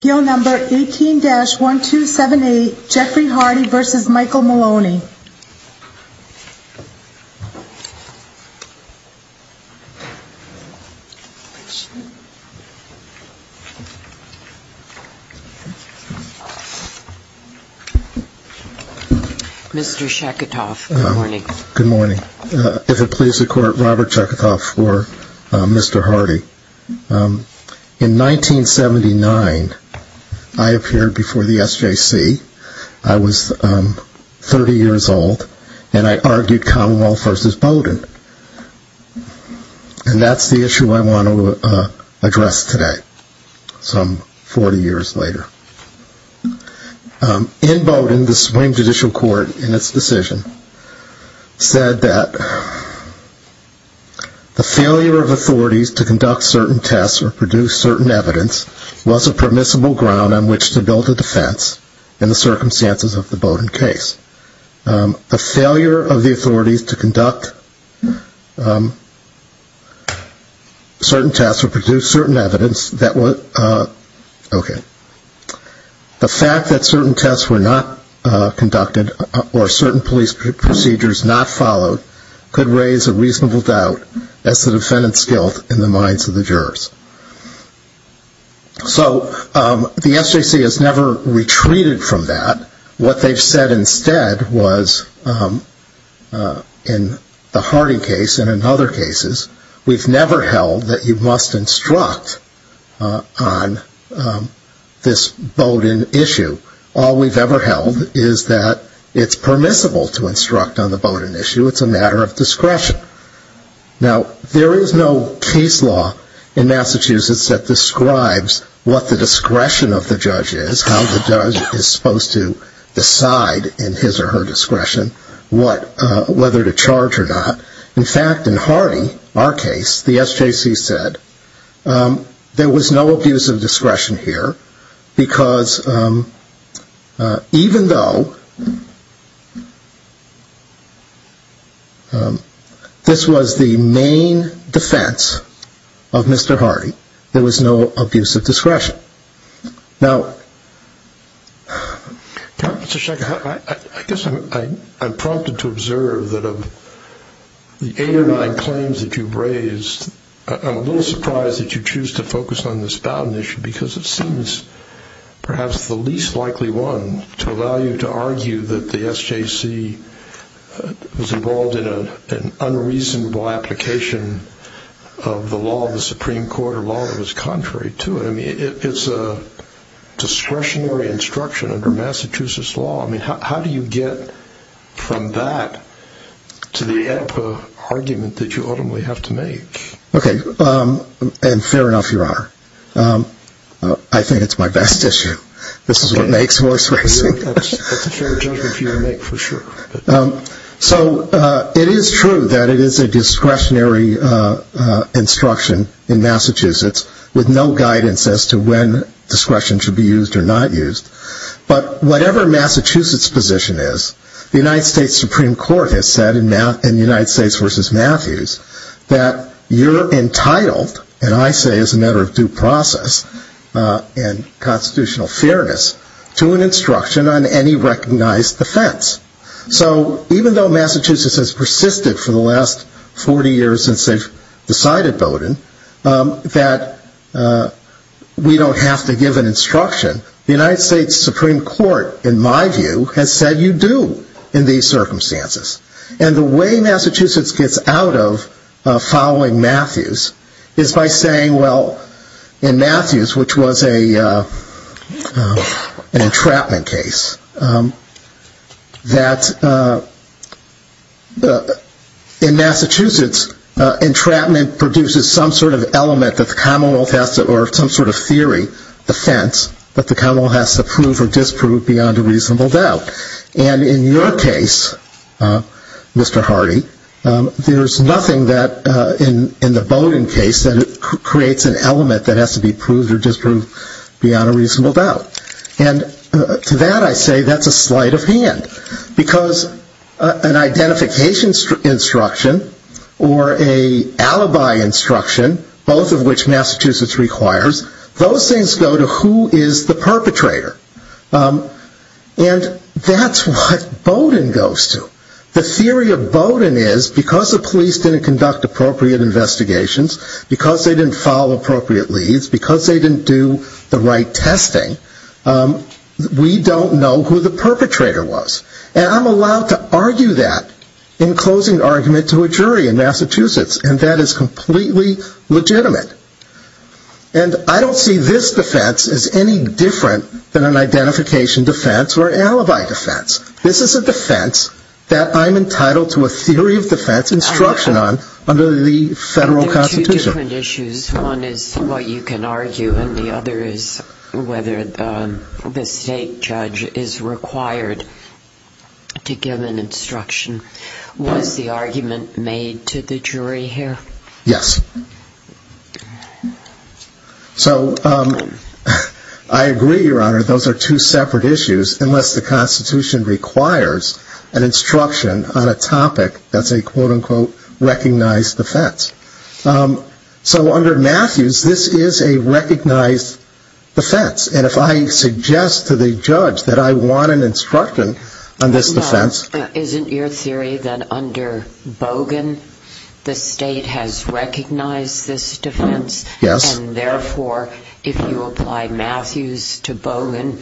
Bill number 18-1278, Jeffrey Hardy v. Michael Maloney. Mr. Shacketoff, good morning. Good morning. If it pleases the Court, Robert Shacketoff for Mr. Hardy. In 1979, I appeared before the SJC. I was 30 years old, and I argued Commonwealth v. Bowdoin. And that's the issue I want to address today, some 40 years later. In Bowdoin, the Supreme Judicial Court, in its decision, said that the failure of authorities to conduct certain tests or produce certain evidence was a permissible ground on which to build a defense in the circumstances of the Bowdoin case. The failure of the authorities to conduct certain tests or produce certain evidence, the fact that certain tests were not conducted or certain police procedures not followed, could raise a reasonable doubt as to defendant's guilt in the minds of the jurors. So the SJC has never retreated from that. What they've said instead was, in the Hardy case and in other cases, we've never held that you must instruct on this Bowdoin issue. All we've ever held is that it's permissible to instruct on the Bowdoin issue. It's a matter of discretion. Now, there is no case law in Massachusetts that describes what the discretion of the judge is, how the judge is supposed to decide in his or her discretion whether to charge or not. In fact, in Hardy, our case, the SJC said there was no abuse of discretion here, because even though this was the main defense of Mr. Hardy, there was no abuse of discretion. Now, I guess I'm prompted to observe that of the eight or nine claims that you've raised, I'm a little surprised that you choose to focus on this Bowdoin issue, because it seems perhaps the least likely one to allow you to argue that the SJC was involved in an unreasonable application of the law of the Supreme Court or law that was contrary to it. I mean, it's a discretionary instruction under Massachusetts law. I mean, how do you get from that to the argument that you ultimately have to make? Okay, and fair enough, Your Honor. I think it's my best issue. This is what makes horse racing. That's a fair judgment for you to make, for sure. So, it is true that it is a discretionary instruction in Massachusetts with no guidance as to when discretion should be used or not used. But whatever Massachusetts' position is, the United States Supreme Court has said in the United States v. Matthews that you're entitled, and I say as a matter of due process and constitutional fairness, to an instruction on any recognized defense. So, even though Massachusetts has persisted for the last 40 years since they've decided Bowdoin, that we don't have to give an instruction, the United States Supreme Court, in my view, has said you do in these circumstances. And the way Massachusetts gets out of following Matthews is by saying, well, in Matthews, which was an entrapment case, that in Massachusetts, entrapment produces some sort of element that the commonwealth has to, or some sort of theory, offense, that the commonwealth has to prove or disprove beyond a reasonable doubt. And in your case, Mr. Hardy, there's nothing that, in the Bowdoin case, that creates an element that has to be proved or disproved beyond a reasonable doubt. And to that I say that's a sleight of hand. Because an identification instruction or an alibi instruction, both of which Massachusetts requires, those things go to who is the perpetrator. And that's what Bowdoin goes to. The theory of Bowdoin is because the police didn't conduct appropriate investigations, because they didn't follow appropriate leads, because they didn't do the right testing, we don't know who the perpetrator was. And I'm allowed to argue that in closing argument to a jury in Massachusetts, and that is completely legitimate. And I don't see this defense as any different than an identification defense or an alibi defense. This is a defense that I'm entitled to a theory of defense instruction on under the federal Constitution. There are two different issues. One is what you can argue, and the other is whether the state judge is required to give an instruction. Was the argument made to the jury here? Yes. So I agree, Your Honor, those are two separate issues, unless the Constitution requires an instruction on a topic that's a, quote, unquote, recognized defense. So under Matthews, this is a recognized defense. And if I suggest to the judge that I want an instruction on this defense. Isn't your theory that under Bogan, the state has recognized this defense? Yes. And therefore, if you apply Matthews to Bogan,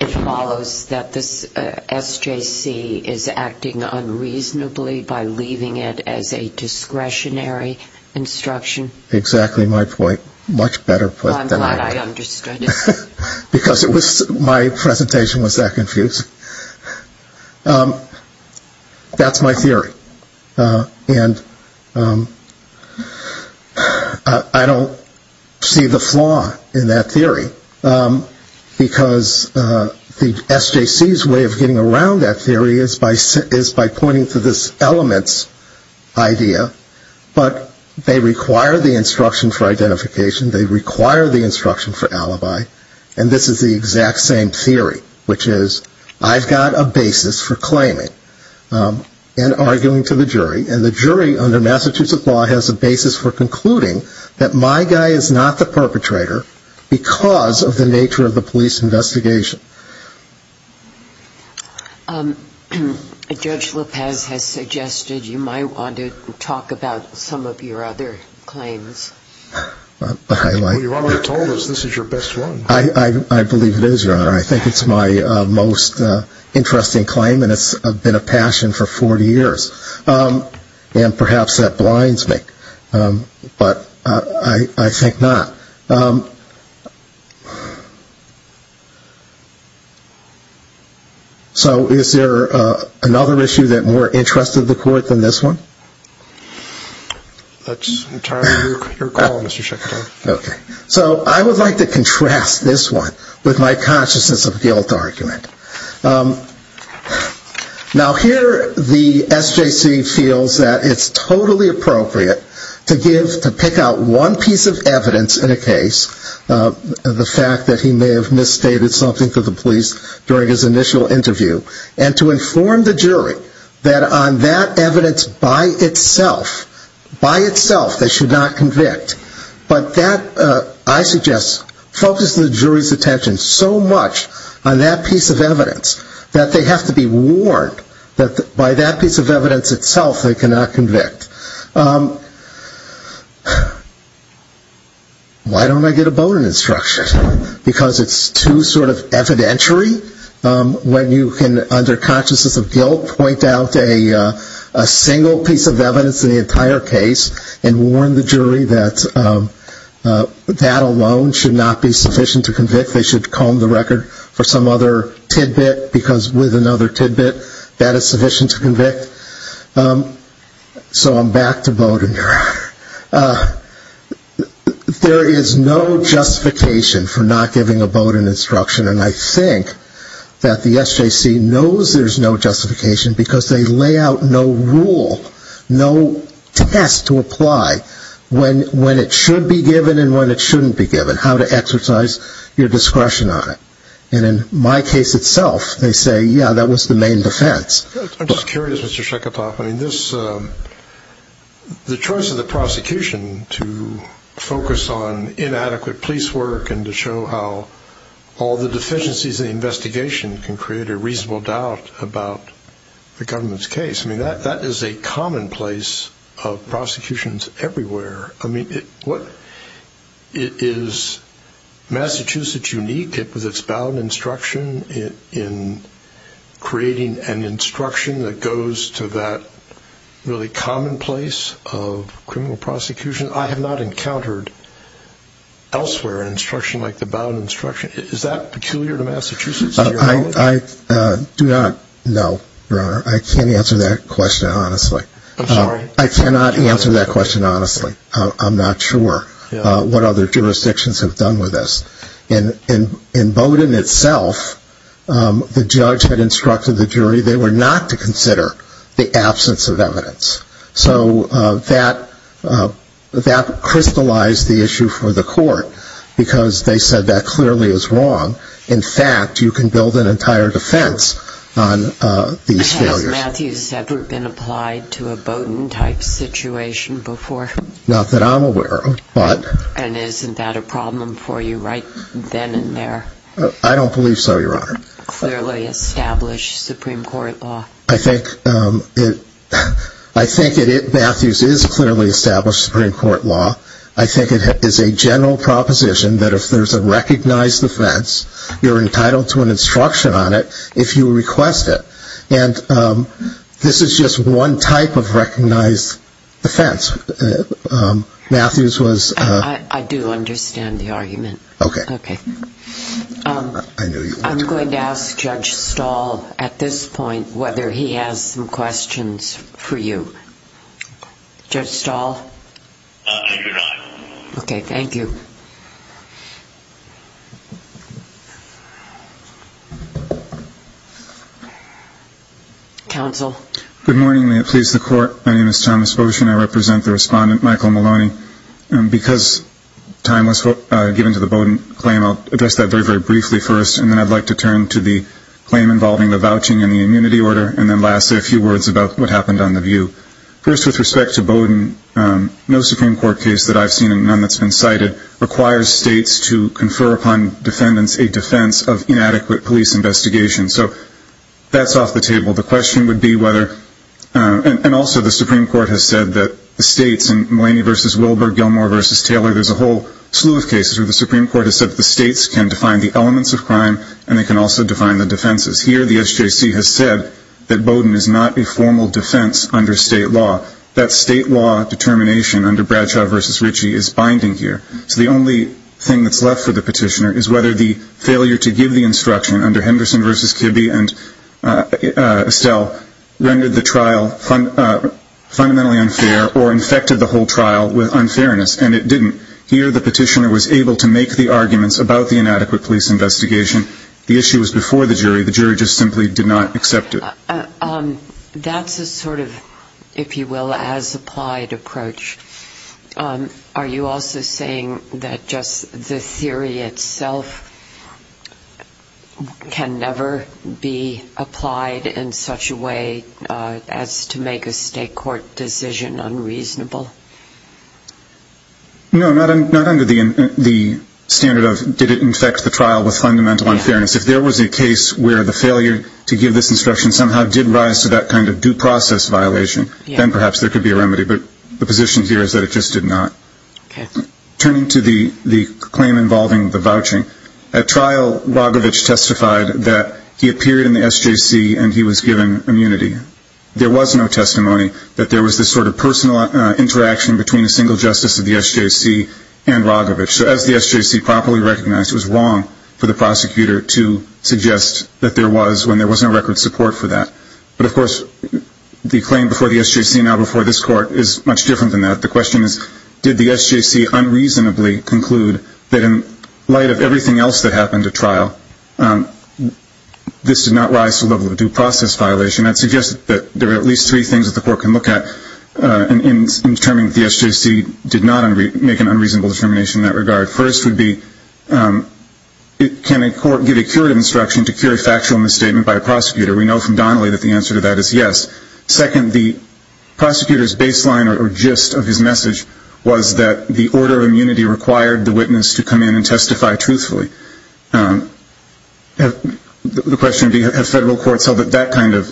it follows that this SJC is acting unreasonably by leaving it as a discretionary instruction? Exactly my point. Much better put than I would. I'm glad I understood it. Because my presentation was that confusing. That's my theory. And I don't see the flaw in that theory. Because the SJC's way of getting around that theory is by pointing to this elements idea. But they require the instruction for identification. They require the instruction for alibi. And this is the exact same theory, which is I've got a basis for claiming and arguing to the jury. And the jury under Massachusetts law has a basis for concluding that my guy is not the perpetrator because of the nature of the police investigation. Judge Lopez has suggested you might want to talk about some of your other claims. You've already told us this is your best one. I believe it is, Your Honor. I think it's my most interesting claim, and it's been a passion for 40 years. And perhaps that blinds me. But I think not. So is there another issue that more interested the court than this one? That's entirely your call, Mr. Secretary. Okay. So I would like to contrast this one with my consciousness of guilt argument. Now here the SJC feels that it's totally appropriate to pick out one piece of evidence in a case, the fact that he may have misstated something to the police during his initial interview, and to inform the jury that on that evidence by itself, by itself, they should not convict. But that, I suggest, focuses the jury's attention so much on that piece of evidence that they have to be warned that by that piece of evidence itself they cannot convict. Why don't I get a Bowdoin instruction? Because it's too sort of evidentiary when you can, under consciousness of guilt, point out a single piece of evidence in the entire case and warn the jury that that alone should not be sufficient to convict. They should comb the record for some other tidbit, because with another tidbit, that is sufficient to convict. So I'm back to Bowdoin, Your Honor. There is no justification for not giving a Bowdoin instruction, and I think that the SJC knows there's no justification because they lay out no rule, no test to apply when it should be given and when it shouldn't be given, how to exercise your discretion on it. And in my case itself, they say, yeah, that was the main defense. I'm just curious, Mr. Sheketoff, I mean, the choice of the prosecution to focus on inadequate police work and to show how all the deficiencies in the investigation can create a reasonable doubt about the government's case, I mean, that is a commonplace of prosecutions everywhere. I mean, is Massachusetts unique with its Bowdoin instruction in creating an instruction that goes to that really commonplace of criminal prosecution? I have not encountered elsewhere an instruction like the Bowdoin instruction. Is that peculiar to Massachusetts? I do not know, Your Honor. I can't answer that question, honestly. I'm sorry? I cannot answer that question, honestly. I'm not sure what other jurisdictions have done with this. In Bowdoin itself, the judge had instructed the jury they were not to consider the absence of evidence. So that crystallized the issue for the court because they said that clearly is wrong. In fact, you can build an entire defense on these failures. Has Matthews ever been applied to a Bowdoin-type situation before? Not that I'm aware of. And isn't that a problem for you right then and there? I don't believe so, Your Honor. Clearly established Supreme Court law. I think Matthews is clearly established Supreme Court law. I think it is a general proposition that if there's a recognized offense, you're entitled to an instruction on it if you request it. And this is just one type of recognized offense. Matthews was ‑‑ I do understand the argument. Okay. Okay. I'm going to ask Judge Stahl at this point whether he has some questions for you. Judge Stahl? I do not. Okay. Thank you. Counsel. Good morning. May it please the Court. My name is Thomas Boshin. I represent the respondent, Michael Maloney. Because time was given to the Bowdoin claim, I'll address that very, very briefly first, and then I'd like to turn to the claim involving the vouching and the immunity order, and then lastly a few words about what happened on the view. First, with respect to Bowdoin, no Supreme Court case that I've seen, and none that's been cited, requires states to confer upon defendants a defense of inadequate police investigation. So that's off the table. The question would be whether ‑‑ and also the Supreme Court has said that the states, in Maloney v. Wilbur, Gilmore v. Taylor, there's a whole slew of cases where the Supreme Court has said that the states can define the elements of crime and they can also define the defenses. Here the SJC has said that Bowdoin is not a formal defense under state law. That state law determination under Bradshaw v. Ritchie is binding here. So the only thing that's left for the petitioner is whether the failure to give the instruction under Henderson v. Kibbe and Estelle rendered the trial fundamentally unfair or infected the whole trial with unfairness, and it didn't. Here the petitioner was able to make the arguments about the inadequate police investigation. The issue was before the jury. The jury just simply did not accept it. That's a sort of, if you will, as applied approach. Are you also saying that just the theory itself can never be applied in such a way as to make a state court decision unreasonable? No, not under the standard of did it infect the trial with fundamental unfairness. If there was a case where the failure to give this instruction somehow did rise to that kind of due process violation, then perhaps there could be a remedy. But the position here is that it just did not. Turning to the claim involving the vouching, at trial Rogovich testified that he appeared in the SJC and he was given immunity. There was no testimony that there was this sort of personal interaction between a single justice of the SJC and Rogovich. So as the SJC properly recognized, it was wrong for the prosecutor to suggest that there was when there was no record support for that. But, of course, the claim before the SJC and now before this court is much different than that. The question is, did the SJC unreasonably conclude that in light of everything else that happened at trial, this did not rise to the level of due process violation? I'd suggest that there are at least three things that the court can look at in determining that the SJC did not make an unreasonable determination in that regard. First would be, can a court give a curative instruction to cure a factual misstatement by a prosecutor? We know from Donnelly that the answer to that is yes. Second, the prosecutor's baseline or gist of his message was that the order of immunity required the witness to come in and testify truthfully. The question would be, have federal courts held that that kind of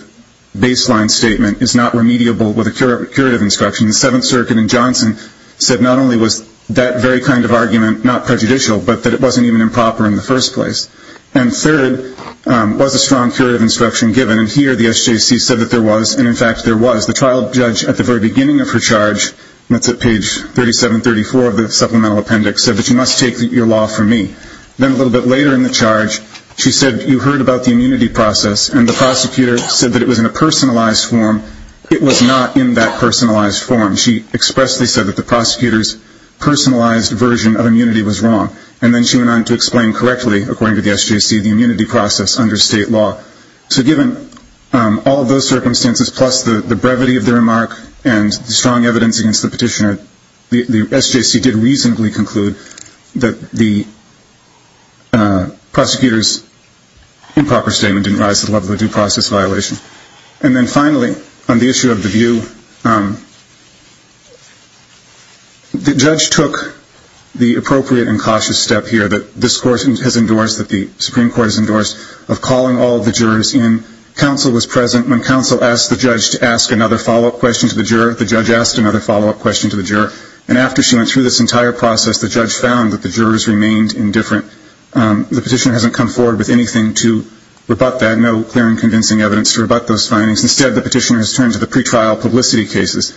baseline statement is not remediable with a curative instruction? The Seventh Circuit in Johnson said not only was that very kind of argument not prejudicial, but that it wasn't even improper in the first place. And third, was a strong curative instruction given? And here the SJC said that there was, and in fact there was. The trial judge at the very beginning of her charge, and that's at page 37-34 of the supplemental appendix, said that you must take your law from me. Then a little bit later in the charge, she said you heard about the immunity process, and the prosecutor said that it was in a personalized form. It was not in that personalized form. She expressly said that the prosecutor's personalized version of immunity was wrong. And then she went on to explain correctly, according to the SJC, the immunity process under state law. So given all of those circumstances, plus the brevity of the remark and the strong evidence against the petitioner, the SJC did reasonably conclude that the prosecutor's improper statement didn't rise to the level of a due process violation. And then finally, on the issue of the view, the judge took the appropriate and cautious step here that this Supreme Court has endorsed of calling all of the jurors in. Counsel was present. When counsel asked the judge to ask another follow-up question to the juror, the judge asked another follow-up question to the juror. And after she went through this entire process, the judge found that the jurors remained indifferent. The petitioner hasn't come forward with anything to rebut that, no clear and convincing evidence to rebut those findings. Instead, the petitioner has turned to the pretrial publicity cases,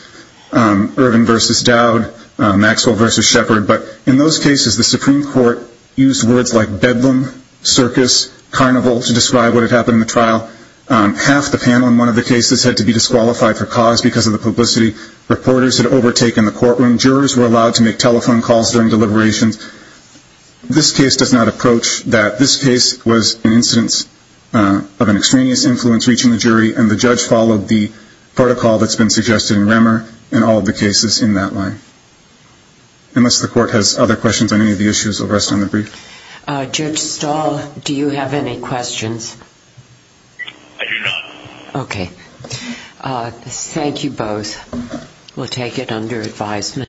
Ervin v. Dowd, Maxwell v. Shepard. But in those cases, the Supreme Court used words like bedlam, circus, carnival, to describe what had happened in the trial. Half the panel in one of the cases had to be disqualified for cause because of the publicity. Reporters had overtaken the courtroom. Jurors were allowed to make telephone calls during deliberations. This case does not approach that this case was an incidence of an extraneous influence reaching the jury, and the judge followed the protocol that's been suggested in Remmer in all of the cases in that line. Unless the court has other questions on any of the issues, I'll rest on the brief. Judge Stahl, do you have any questions? I do not. Okay. Thank you both. We'll take it under advisement.